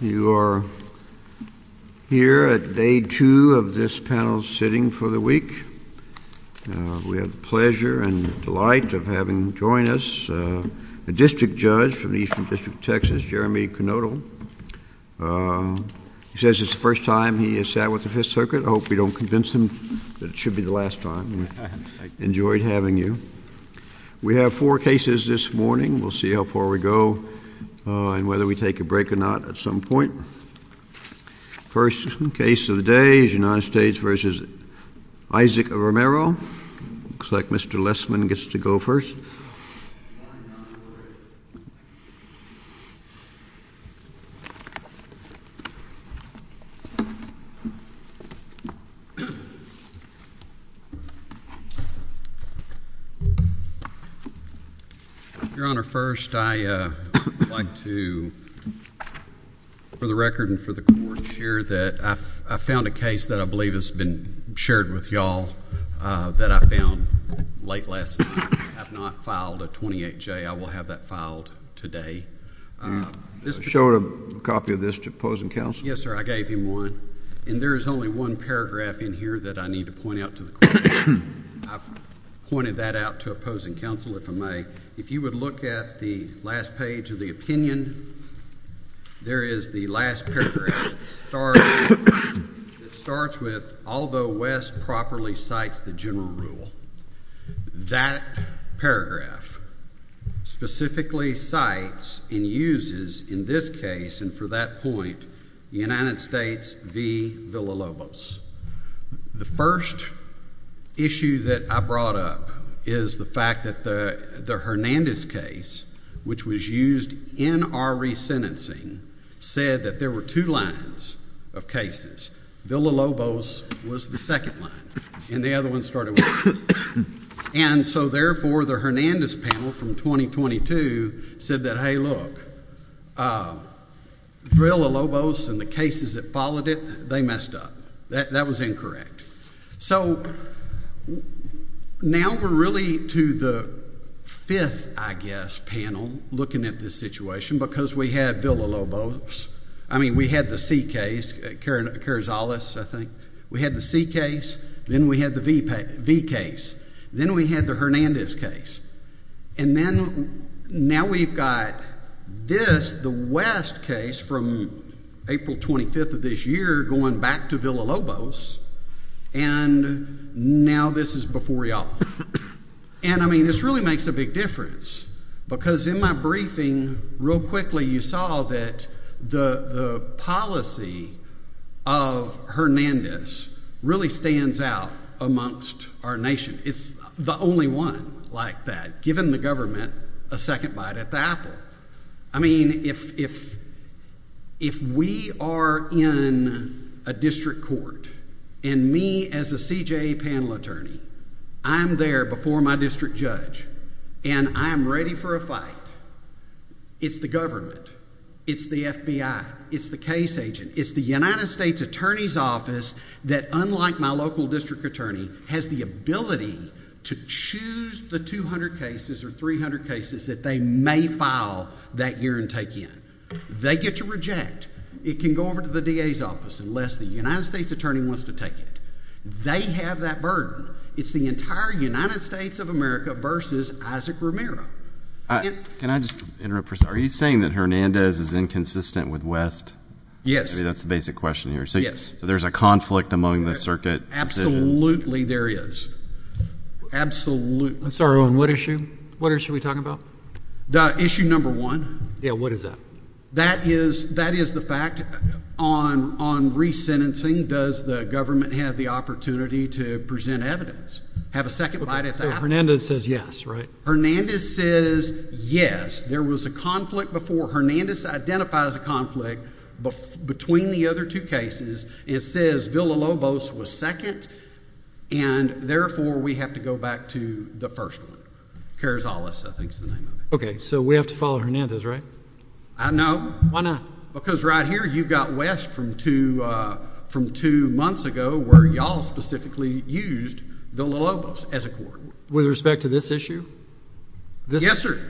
You are here at day two of this panel's sitting for the week. We have the pleasure and delight of having join us a district judge from the Eastern District of Texas, Jeremy Knodel. He says it's the first time he has sat with the Fifth Circuit. I hope we don't convince him that it should be the last time. I enjoyed having you. We have four cases this morning. We'll see how far we go and whether we take a break or not at some point. First case of the day is United States v. Isaac Romero. It looks like Mr. Lessman gets to go first. Your Honor, first I would like to, for the record and for the court to hear, that I found a case that I believe has been shared with y'all that I found late last night. I have not filed a 28-J. I will have that filed today. Show a copy of this to opposing counsel. Yes, sir. I gave him one. And there is only one paragraph in here that I need to point out to the court. I've pointed that out to opposing counsel, if I may. If you would look at the last page of the opinion, there is the last paragraph that starts with, although West properly cites the general rule. That paragraph specifically cites and uses, in this case and for that point, the United States v. Villalobos. The first issue that I brought up is the fact that the Hernandez case, which was used in our resentencing, said that there were two lines of cases. Villalobos was the second line. And the other one started with this. And so therefore, the Hernandez panel from 2022 said that, hey, look, Villalobos and the cases that followed it, they messed up. That was incorrect. So now we're really to the fifth, I guess, panel looking at this situation, because we had Villalobos. I mean, we had the C case, Carrizales, I think. We had the C case. Then we had the V case. Then we had the Hernandez case. And then now we've got this, the West case from April 25th of this year, going back to Villalobos. And now this is before y'all. And I mean, this really makes a big difference, because in my briefing, real quickly, you saw that the policy of Hernandez really stands out amongst our nation. It's the only one like that, given the government a second bite at the apple. I mean, if we are in a district court, and me as a CJA panel attorney, I'm there before my district judge, and I'm ready for a fight. It's the government. It's the FBI. It's the case agent. It's the United States Attorney's Office that, unlike my local district attorney, has the ability to choose the 200 cases or 300 cases that they may file that year and take in. They get to reject. It can go over to the DA's office, unless the United States attorney wants to take it. They have that burden. It's the entire United States of America versus Isaac Romero. Can I just interrupt for a second? Are you saying that Hernandez is inconsistent with West? Yes. I mean, that's the basic question here. So there's a conflict among the circuit. Absolutely, there is. Absolutely. I'm sorry, on what issue? What issue are we talking about? Issue number one. Yeah, what is that? That is the fact on resentencing. Does the government have the opportunity to present evidence? Have a second bite at the apple. Hernandez says yes, right? Hernandez says yes. There was a conflict before. Hernandez identifies a conflict between the other two cases. It says Villalobos was second. And therefore, we have to go back to the first one. Carzales, I think is the name of it. OK. So we have to follow Hernandez, right? I don't know. Why not? Because right here, you've got West from two months ago, where y'all specifically used Villalobos as a court. With respect to this issue? Yes, sir.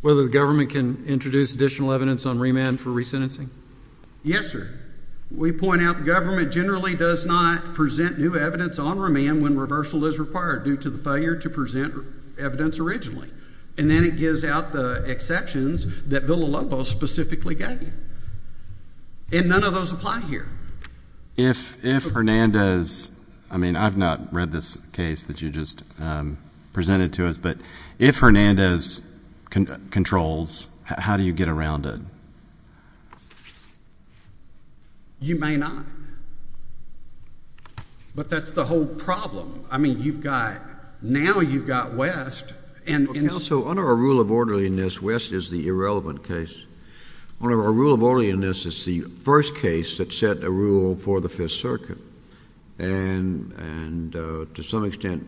Whether the government can introduce additional evidence on remand for resentencing? Yes, sir. We point out the government generally does not present new evidence on remand when reversal is required due to the failure to present evidence originally. And then it gives out the exceptions that Villalobos specifically gave you. And none of those apply here. If Hernandez, I mean, I've not read this case that you just presented to us. But if Hernandez controls, how do you get around it? You may not. But that's the whole problem. I mean, you've got, now you've got West. And also, under our rule of orderliness, West is the irrelevant case. Under our rule of orderliness, it's the first case that set a rule for the Fifth Circuit. And to some extent,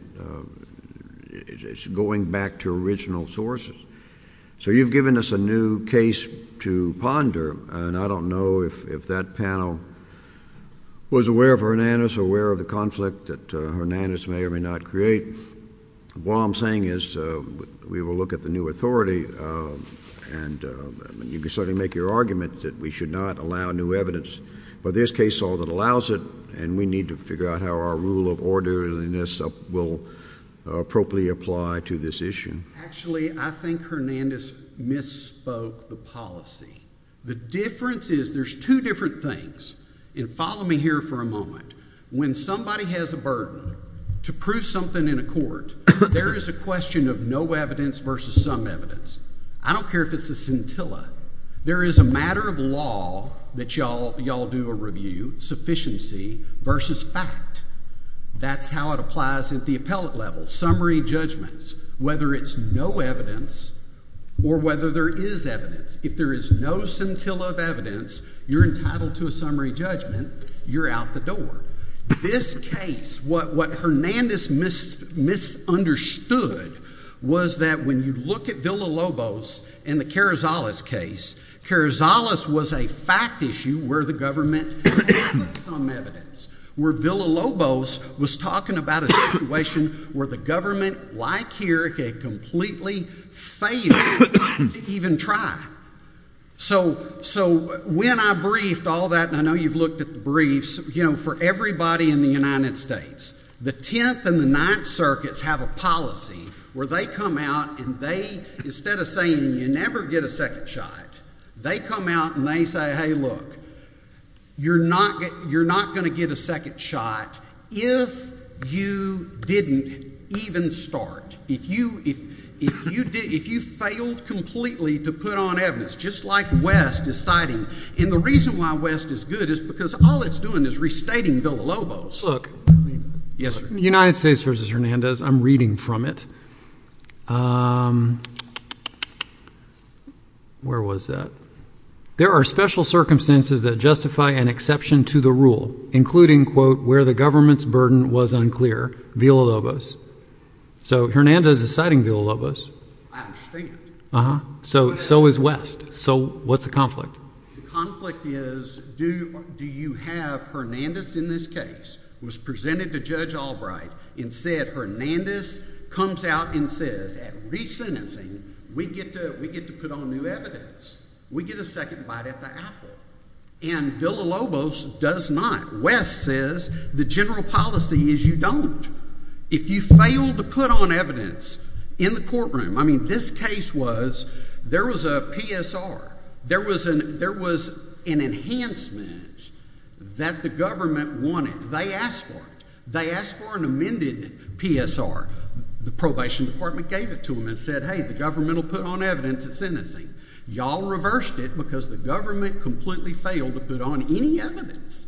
it's going back to original sources. So you've given us a new case to ponder. And I don't know if that panel was aware of Hernandez, aware of the conflict that Hernandez may or may not create. What I'm saying is we will look at the new authority. And you can certainly make your argument that we should not allow new evidence. But there's case law that allows it. And we need to figure out how our rule of orderliness will appropriately apply to this issue. Actually, I think Hernandez misspoke the policy. The difference is there's two different things. And follow me here for a moment. When somebody has a burden to prove something in a court, there is a question of no evidence versus some evidence. I don't care if it's a scintilla. There is a matter of law that y'all do a review, sufficiency versus fact. That's how it applies at the appellate level. Summary judgments. Whether it's no evidence or whether there is evidence. If there is no scintilla of evidence, you're entitled to a summary judgment. You're out the door. This case, what Hernandez misunderstood was that when you look at Villa-Lobos and the Carrizales case, Carrizales was a fact issue where the government had some evidence. Where Villa-Lobos was talking about a situation where the government, like here, had completely failed to even try. So when I briefed all that, and I know you've looked at the briefs, you know, for everybody in the United States, the Tenth and the Ninth Circuits have a policy where they come out and they, instead of saying you never get a second shot, they come out and they say, hey, look, you're not going to get a second shot if you didn't even start. If you failed completely to put on evidence, just like West is citing. And the reason why West is good is because all it's doing is restating Villa-Lobos. Look, United States v. Hernandez, I'm reading from it. Where was that? There are special circumstances that justify an exception to the rule, including, quote, where the government's burden was unclear. Villa-Lobos. So Hernandez is citing Villa-Lobos. I understand. So is West. So what's the conflict? The conflict is, do you have Hernandez in this case, was presented to Judge Albright and said, Hernandez comes out and says, at re-sentencing, we get to put on new evidence. We get a second bite at the apple. And Villa-Lobos does not. West says the general policy is you don't. If you fail to put on evidence in the courtroom, I mean, this case was, there was a PSR. There was an enhancement that the government wanted. They asked for it. They asked for an amended PSR. The probation department gave it to them and said, hey, the government will put on evidence at sentencing. Y'all reversed it because the government completely failed to put on any evidence.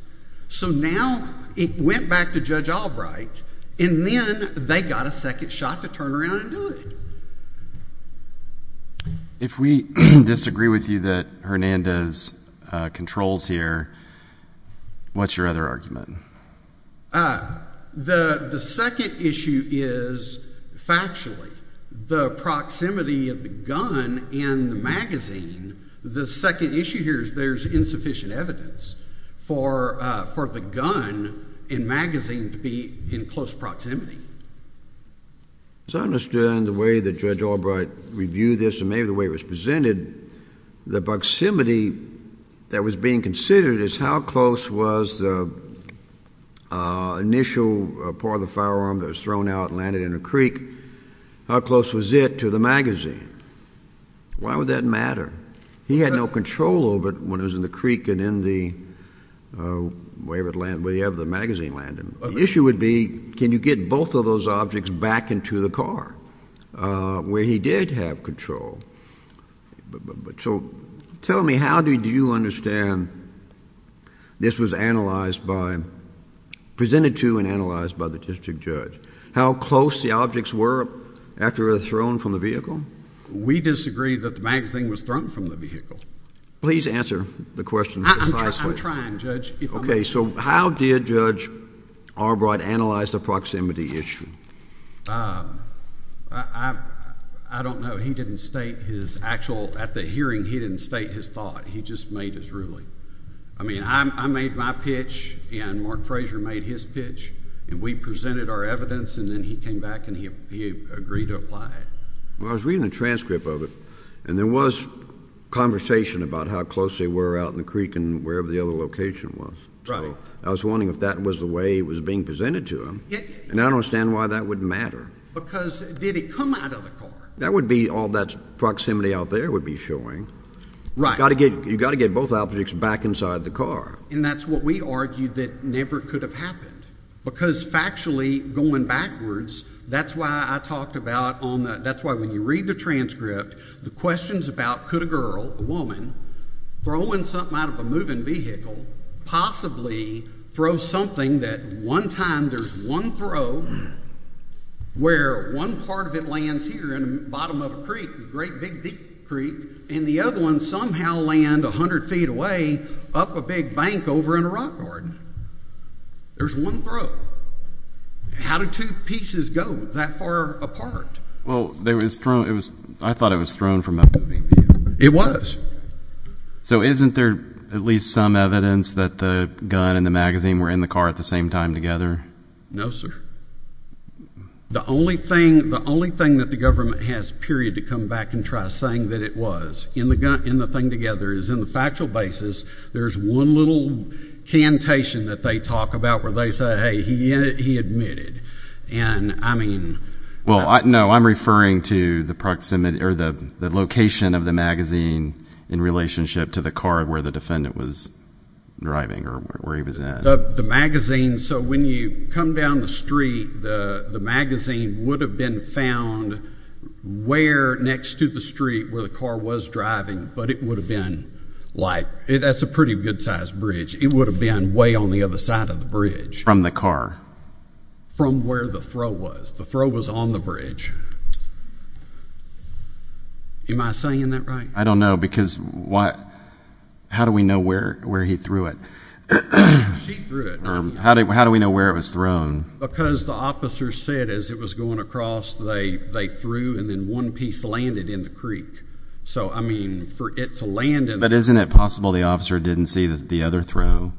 So now it went back to Judge Albright, and then they got a second shot to turn around and do it. If we disagree with you that Hernandez controls here, what's your other argument? The second issue is factually. The proximity of the gun and the magazine, the second issue here is there's insufficient evidence for the gun and magazine to be in close proximity. As I understand the way that Judge Albright reviewed this and maybe the way it was presented, the proximity that was being considered is how close was the initial part of the firearm that was thrown out and landed in a creek, how close was it to the magazine? Why would that matter? He had no control over it when it was in the creek and in the way the magazine landed. The issue would be, can you get both of those objects back into the car where he did have control? So tell me, how did you understand this was analyzed by, presented to and analyzed by the district judge? How close the objects were after they were thrown from the vehicle? We disagree that the magazine was thrown from the vehicle. Please answer the question precisely. I'm trying, Judge. Okay, so how did Judge Albright analyze the proximity issue? I don't know. He didn't state his actual, at the hearing, he didn't state his thought. He just made his ruling. I mean, I made my pitch and Mark Frazier made his pitch and we presented our evidence and then he came back and he agreed to apply it. Well, I was reading the transcript of it and there was conversation about how close they were out in the creek and wherever the other location was. I was wondering if that was the way it was being presented to him and I don't understand why that would matter. Because did it come out of the car? That would be all that proximity out there would be showing. Right. You've got to get both objects back inside the car. And that's what we argued that never could have happened because factually, going backwards, that's why I talked about on the, that's why when you read the transcript, the questions about could a girl, a woman, throw in something out of a moving vehicle, possibly throw something that one time there's one throw where one part of it lands here in the bottom of a creek, a great big deep creek, and the other one somehow land 100 feet away up a big bank over in a rock garden. There's one throw. So how do two pieces go that far apart? Well, there was thrown, it was, I thought it was thrown from a moving vehicle. It was. So isn't there at least some evidence that the gun and the magazine were in the car at the same time together? No, sir. The only thing, the only thing that the government has, period, to come back and try saying that it was in the gun, in the thing together is in the factual basis, there's one little cantation that they talk about where they say, hey, he admitted. And I mean. Well, no, I'm referring to the proximity or the location of the magazine in relationship to the car where the defendant was driving or where he was at. The magazine, so when you come down the street, the magazine would have been found where next to the street where the car was driving, but it would have been like, that's a pretty good size bridge. It would have been way on the other side of the bridge. From the car. From where the throw was. The throw was on the bridge. Am I saying that right? I don't know because what, how do we know where he threw it? She threw it. How do we know where it was thrown? Because the officer said as it was going across, they threw and then one piece landed in the So I mean, for it to land in. But isn't it possible the officer didn't see the other throw?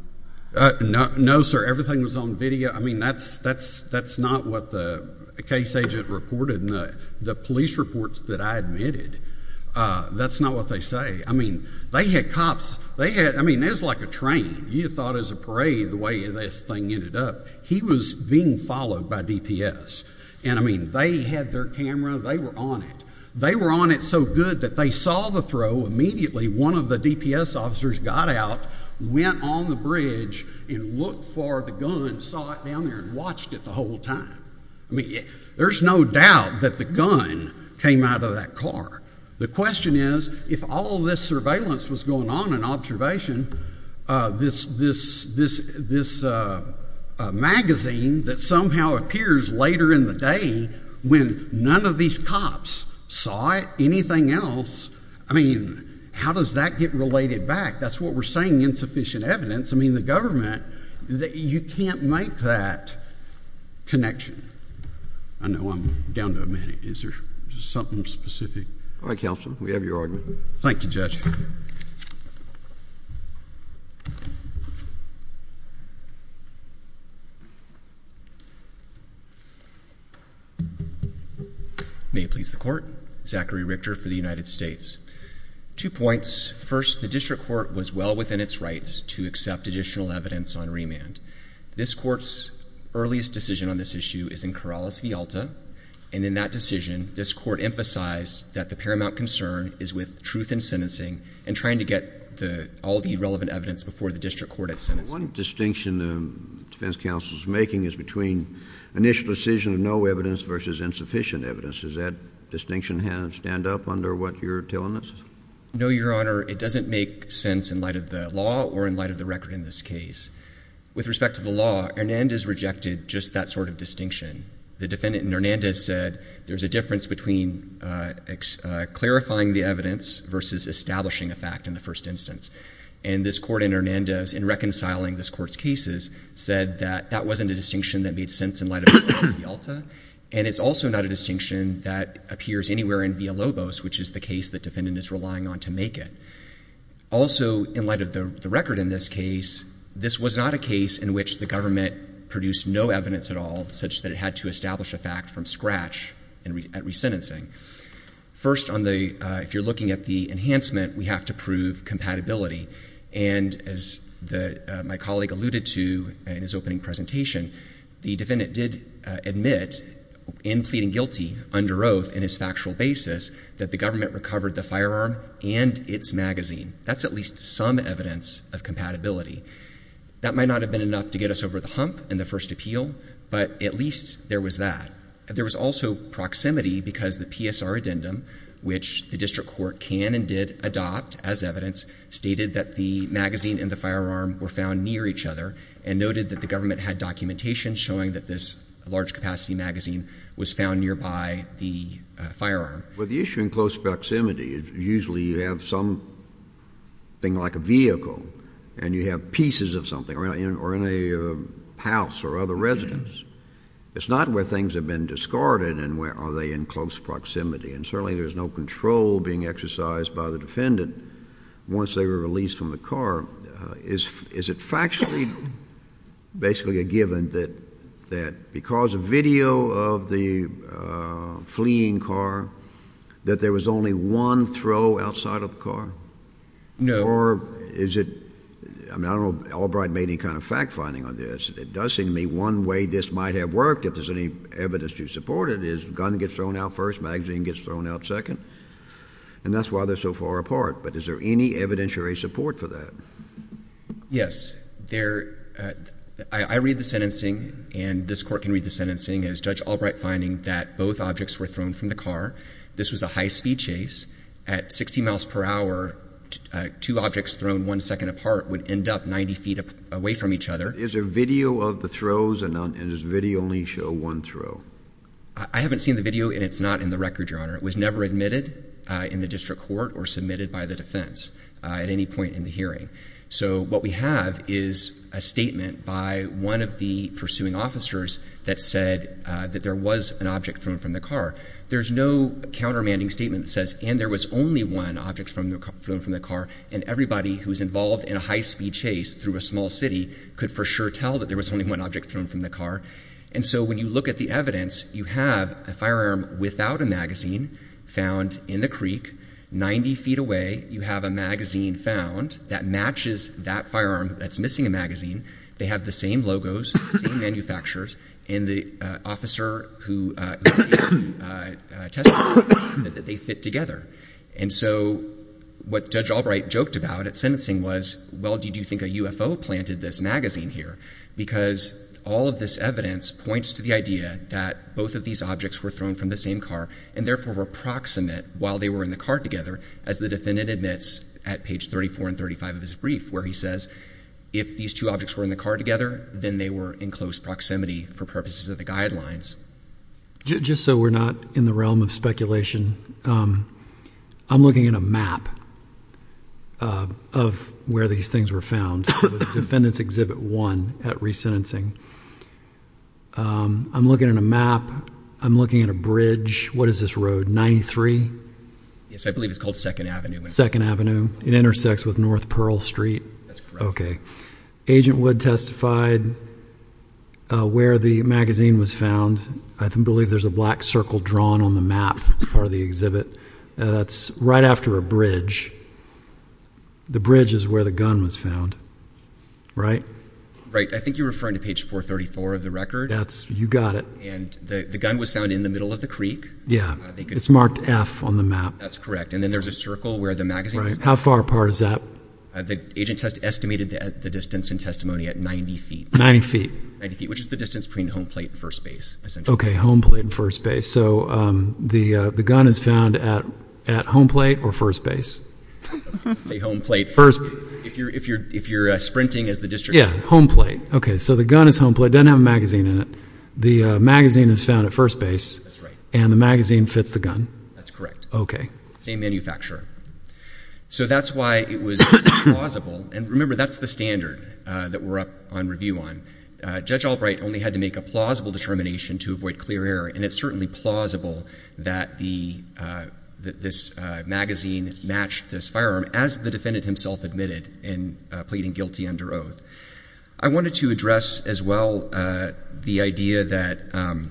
No, sir. Everything was on video. I mean, that's not what the case agent reported. And the police reports that I admitted, that's not what they say. I mean, they had cops. They had, I mean, it was like a train. You thought it was a parade the way this thing ended up. He was being followed by DPS. And I mean, they had their camera. They were on it. They were on it so good that they saw the throw immediately. One of the DPS officers got out, went on the bridge, and looked for the gun. Saw it down there and watched it the whole time. I mean, there's no doubt that the gun came out of that car. The question is, if all this surveillance was going on and observation, this magazine that somehow appears later in the day when none of these cops saw it, anything else, I mean, how does that get related back? That's what we're saying insufficient evidence. I mean, the government, you can't make that connection. I know I'm down to a minute. Is there something specific? All right, counsel. We have your argument. Thank you, Judge. May it please the court. Zachary Richter for the United States. Two points. First, the district court was well within its rights to accept additional evidence on remand. This court's earliest decision on this issue is in Corrales v. Alta. And in that decision, this court emphasized that the paramount concern is with truth in sentencing and trying to get all the relevant evidence before the district court at sentencing. One distinction the defense counsel is making is between initial decision of no evidence versus insufficient evidence. Does that distinction stand up under what you're telling us? No, Your Honor. It doesn't make sense in light of the law or in light of the record in this case. With respect to the law, Hernandez rejected just that sort of distinction. The defendant in Hernandez said there's a difference between clarifying the evidence versus establishing a fact in the first instance. And this court in Hernandez, in reconciling this court's cases, said that that wasn't a distinction that made sense in light of Corrales v. Alta. And it's also not a distinction that appears anywhere in Villalobos, which is the case the defendant is relying on to make it. Also, in light of the record in this case, this was not a case in which the government produced no evidence at all, such that it had to establish a fact from scratch at resentencing. First, if you're looking at the enhancement, we have to prove compatibility. And as my colleague alluded to in his opening presentation, the defendant did admit in pleading guilty under oath in his factual basis that the government recovered the firearm and its magazine. That's at least some evidence of compatibility. That might not have been enough to get us over the hump in the first appeal, but at least there was that. There was also proximity because the PSR addendum, which the district court can and did adopt as evidence, stated that the magazine and the firearm were found near each other and noted that the government had documentation showing that this large-capacity magazine was found nearby the firearm. Well, the issue in close proximity is usually you have something like a vehicle and you have pieces of something or in a house or other residence. It's not where things have been discarded and where are they in close proximity. And certainly there's no control being exercised by the defendant once they were released from the car. Is it factually basically a given that because of video of the fleeing car that there was only one throw outside of the car? No. Or is it, I mean, I don't know if Albright made any kind of fact finding on this, but it does seem to me one way this might have worked, if there's any evidence to support it, is gun gets thrown out first, magazine gets thrown out second, and that's why they're so far apart. But is there any evidentiary support for that? Yes. I read the sentencing and this court can read the sentencing as Judge Albright finding that both objects were thrown from the car. This was a high-speed chase. At 60 miles per hour, two objects thrown one second apart would end up 90 feet away from each other. Is there video of the throws and does video only show one throw? I haven't seen the video and it's not in the record, Your Honor. It was never admitted in the district court or submitted by the defense at any point in the hearing. So what we have is a statement by one of the pursuing officers that said that there was an object thrown from the car. There's no countermanding statement that says, and there was only one object thrown from the car, and everybody who was involved in a high-speed chase through a small city could for sure tell that there was only one object thrown from the car. And so when you look at the evidence, you have a firearm without a magazine found in the creek, 90 feet away, you have a magazine found that matches that firearm that's missing a magazine. They have the same logos, same manufacturers, and the officer who tested them said that they fit together. And so what Judge Albright joked about at sentencing was, well, did you think a UFO planted this magazine here? Because all of this evidence points to the idea that both of these objects were thrown from the same car and therefore were proximate while they were in the car together, as the defendant admits at page 34 and 35 of his brief, where he says, if these two objects were in the car together, then they were in close proximity for purposes of the guidelines. Just so we're not in the realm of speculation, I'm looking at a map of where these things were found. It was Defendant's Exhibit 1 at resentencing. I'm looking at a map. I'm looking at a bridge. What is this road? 93? Yes, I believe it's called 2nd Avenue. 2nd Avenue. It intersects with North Pearl Street. That's correct. Okay. Agent Wood testified where the magazine was found. I believe there's a black circle drawn on the map as part of the exhibit. That's right after a bridge. The bridge is where the gun was found, right? Right. I think you're referring to page 434 of the record. That's, you got it. And the gun was found in the middle of the creek. Yeah, it's marked F on the map. That's correct. And then there's a circle where the magazine was found. Right. How far apart is that? The agent has estimated the distance in testimony at 90 feet. 90 feet. 90 feet, which is the distance between home plate and first base, essentially. Okay, home plate and first base. So, the gun is found at home plate or first base? Say home plate. If you're sprinting as the district attorney. Yeah, home plate. Okay, so the gun is home plate. Doesn't have a magazine in it. The magazine is found at first base. That's right. And the magazine fits the gun. That's correct. Okay. Same manufacturer. So, that's why it was plausible. And remember, that's the standard that we're up on review on. Judge Albright only had to make a plausible determination to avoid clear error. And it's certainly plausible that this magazine matched this firearm, as the defendant himself admitted in pleading guilty under oath. I wanted to address, as well, the idea that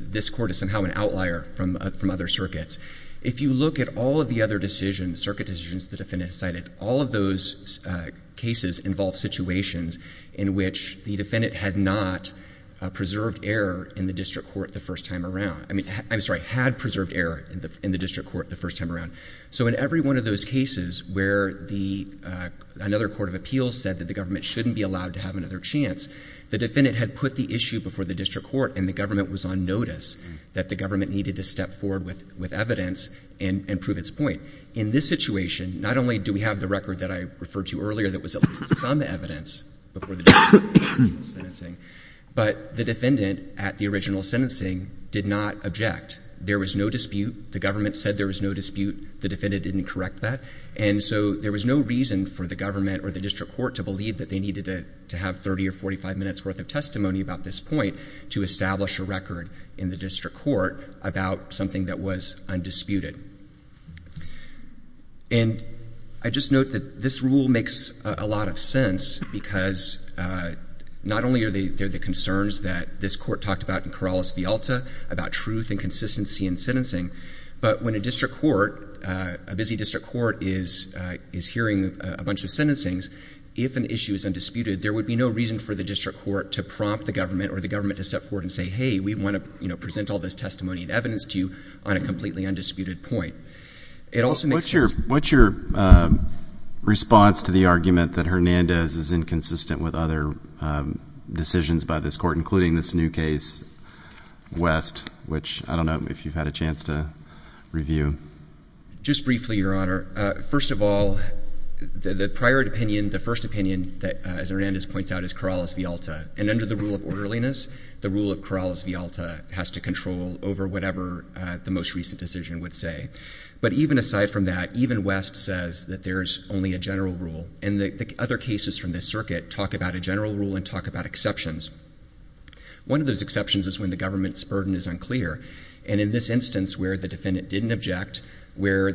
this court is somehow an outlier from other circuits. If you look at all of the other decisions, circuit decisions the defendant cited, all of those cases involve situations in which the defendant had not preserved error in the district court the first time around. I mean, I'm sorry, had preserved error in the district court the first time around. So, in every one of those cases where another court of appeals said that the government shouldn't be allowed to have another chance, the defendant had put the issue before the district court, and the government was on notice that the government needed to step forward with evidence and prove its point. In this situation, not only do we have the record that I referred to earlier that was at least some evidence before the district court in the original sentencing, but the defendant at the original sentencing did not object. There was no dispute. The government said there was no dispute. The defendant didn't correct that. And so, there was no reason for the government or the district court to believe that they needed to have 30 or 45 minutes worth of testimony about this point to establish a record in the district court about something that was undisputed. And I just note that this rule makes a lot of sense because not only are there the concerns that this court talked about in Corrales v. Alta, about truth and consistency in sentencing, but when a district court, a busy district court is hearing a bunch of sentencings, if an issue is undisputed, there would be no reason for the district court to prompt the government or the government to step forward and say, hey, we want to present all this testimony and evidence to you on a completely undisputed point. It also makes sense. What's your response to the argument that Hernandez is inconsistent with other decisions by this court, including this new case, West, which I don't know if you've had a chance to review? Just briefly, Your Honor. First of all, the prior opinion, the first opinion that, as Hernandez points out, is Corrales v. Alta. And under the rule of orderliness, the rule of Corrales v. Alta has to control over whatever the most recent decision would say. But even aside from that, even West says that there's only a general rule. And the other cases from this circuit talk about a general rule and talk about exceptions. One of those exceptions is when the government's burden is unclear. And in this instance where the defendant didn't object, where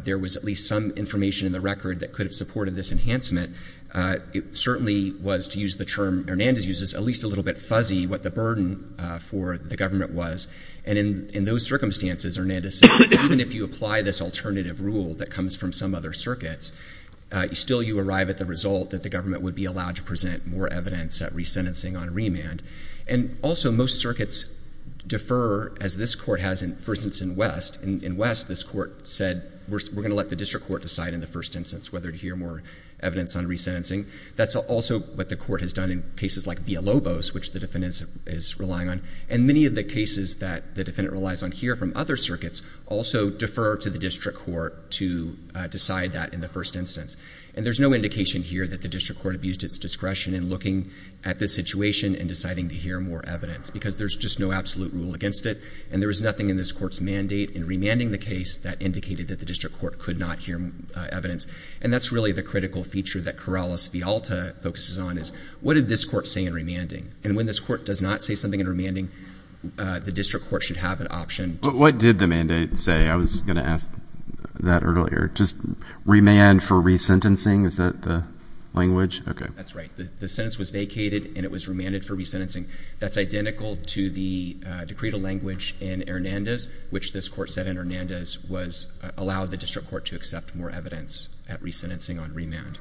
there was at least some information in the record that could have supported this enhancement, it certainly was to use the term Hernandez uses, at least a little bit fuzzy what the burden for the government was. And in those circumstances, Hernandez said, even if you apply this alternative rule that comes from some other circuits, still you arrive at the result that the government would be allowed to present more evidence at resentencing on remand. And also, most circuits defer, as this court has, for instance, in West. In West, this court said, we're going to let the district court decide in the first instance whether to hear more evidence on resentencing. That's also what the court has done in cases like Villalobos, which the defendant is relying on. And many of the cases that the defendant relies on here from other circuits also defer to the district court to decide that in the first instance. And there's no indication here that the district court abused its discretion in looking at this situation and deciding to hear more evidence, because there's just no absolute rule against it. And there was nothing in this court's mandate in remanding the case that indicated that the district court could not hear evidence. And that's really the critical feature that Corrales v. Alta focuses on is, what did this court say in remanding? And when this court does not say something in remanding, the district court should have an option. But what did the mandate say? I was going to ask that earlier. Just remand for resentencing? Is that the language? OK. That's right. The sentence was vacated, and it was remanded for resentencing. That's identical to the decree to language in Hernandez, which this court said in Hernandez was allow the district court to accept more evidence at resentencing on remand.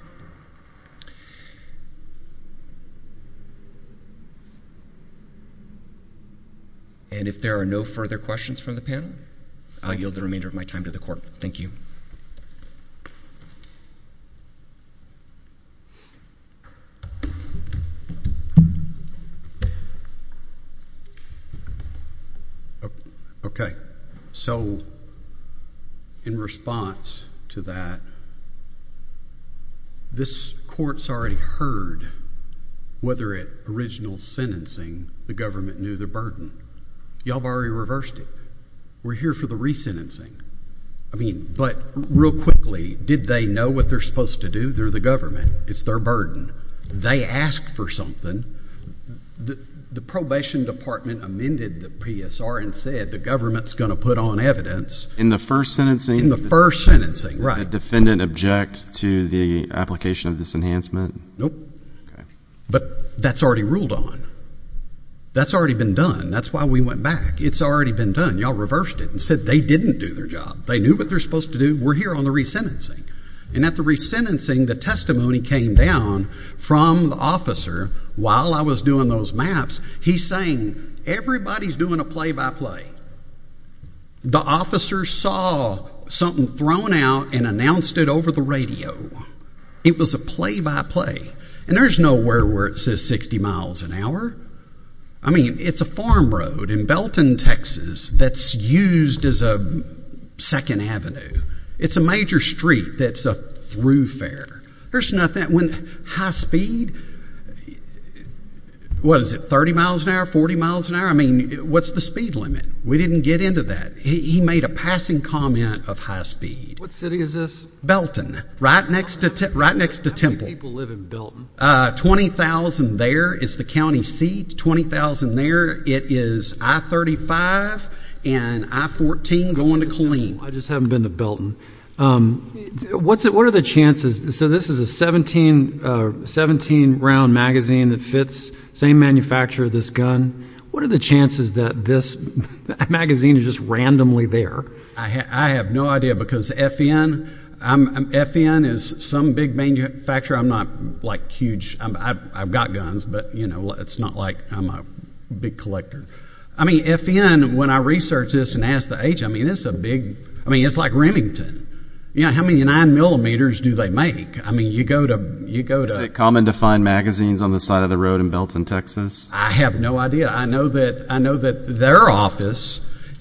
And if there are no further questions from the panel, I'll yield the remainder of my time to the court. Thank you. OK. So in response to that, this court's already heard whether at original sentencing the government knew the burden. Y'all have already reversed it. We're here for the resentencing. I mean, but real quickly, did they know what they're supposed to do? They're the government. It's their burden. They asked for something. The probation department amended the PSR and said the government's going to put on evidence. In the first sentencing? In the first sentencing, right. Did the defendant object to the application of this enhancement? Nope. But that's already ruled on. That's already been done. That's why we went back. It's already been done. Y'all reversed it and said they didn't do their job. They knew what they're supposed to do. We're here on the resentencing. And at the resentencing, the testimony came down from the officer while I was doing those maps. He's saying, everybody's doing a play by play. The officer saw something thrown out and announced it over the radio. It was a play by play. And there's no word where it says 60 miles an hour. I mean, it's a farm road in Belton, Texas, that's used as a second avenue. It's a major street that's a throughfare. There's nothing. When high speed, what is it, 30 miles an hour, 40 miles an hour? I mean, what's the speed limit? We didn't get into that. He made a passing comment of high speed. What city is this? Belton, right next to Temple. How many people live in Belton? 20,000 there is the county seat. 20,000 there. It is I-35 and I-14 going to Killeen. I just haven't been to Belton. What are the chances? So this is a 17-round magazine that fits the same manufacturer of this gun. What are the chances that this magazine is just randomly there? I have no idea because FN is some big manufacturer. I'm not huge. I've got guns, but it's not like I'm a big collector. I mean, FN, when I researched this and asked the age, I mean, it's a big, I mean, it's like Remington. Yeah, how many nine millimeters do they make? I mean, you go to, you go to- Is it common to find magazines on the side of the road in Belton, Texas? I have no idea. I know that their office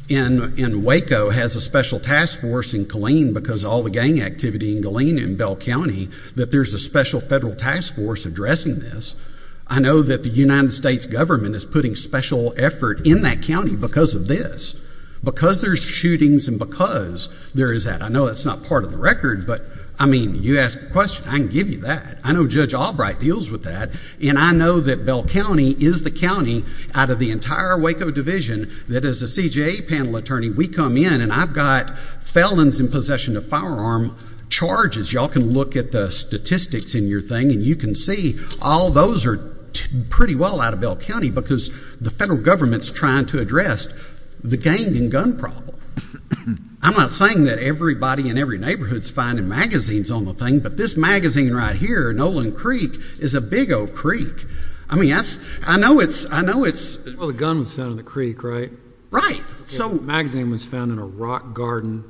in Waco has a special task force in Killeen because all the gang activity in Killeen and Bell County, that there's a special federal task force addressing this. I know that the United States government is putting special effort in that county because of this, because there's shootings and because there is that. I know that's not part of the record, but I mean, you ask a question, I can give you that. I know Judge Albright deals with that. And I know that Bell County is the county out of the entire Waco division that as a CJA panel attorney, we come in and I've got felons in possession of firearm charges. Y'all can look at the statistics in your thing and you can see all those are pretty well out of Bell County because the federal government's trying to address the gang and gun problem. I'm not saying that everybody in every neighborhood's finding magazines on the thing, but this magazine right here, Nolan Creek, is a big old creek. I mean, I know it's- Well, the gun was found in the creek, right? Right. So- Magazine was found in a rock garden.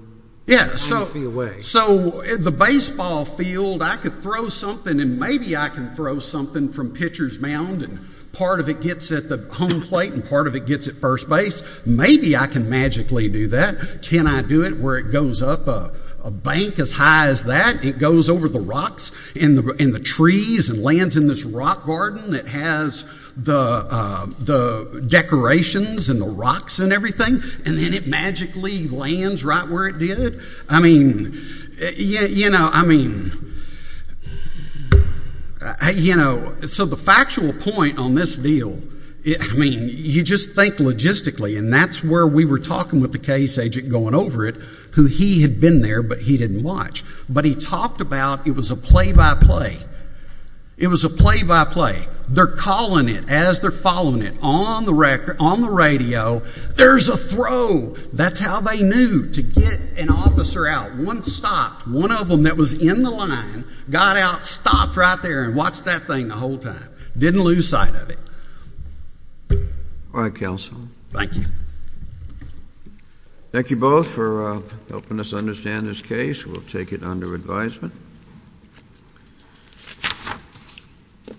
Yeah, so- A few feet away. So the baseball field, I could throw something and maybe I can throw something from pitcher's mound and part of it gets at the home plate and part of it gets at first base. Maybe I can magically do that. Can I do it where it goes up a bank as high as that? It goes over the rocks and the trees and lands in this rock garden that has the decorations and the rocks and everything, and then it magically lands right where it did. I mean, you know, so the factual point on this deal, I mean, you just think logistically and that's where we were talking with the case agent going over it, who he had been there but he didn't watch, but he talked about it was a play by play. It was a play by play. They're calling it as they're following it on the radio. There's a throw. That's how they knew to get an officer out. One stopped. One of them that was in the line got out, stopped right there and watched that thing the whole time. Didn't lose sight of it. All right, counsel. Thank you. Thank you both for helping us understand this case. We'll take it under advisement.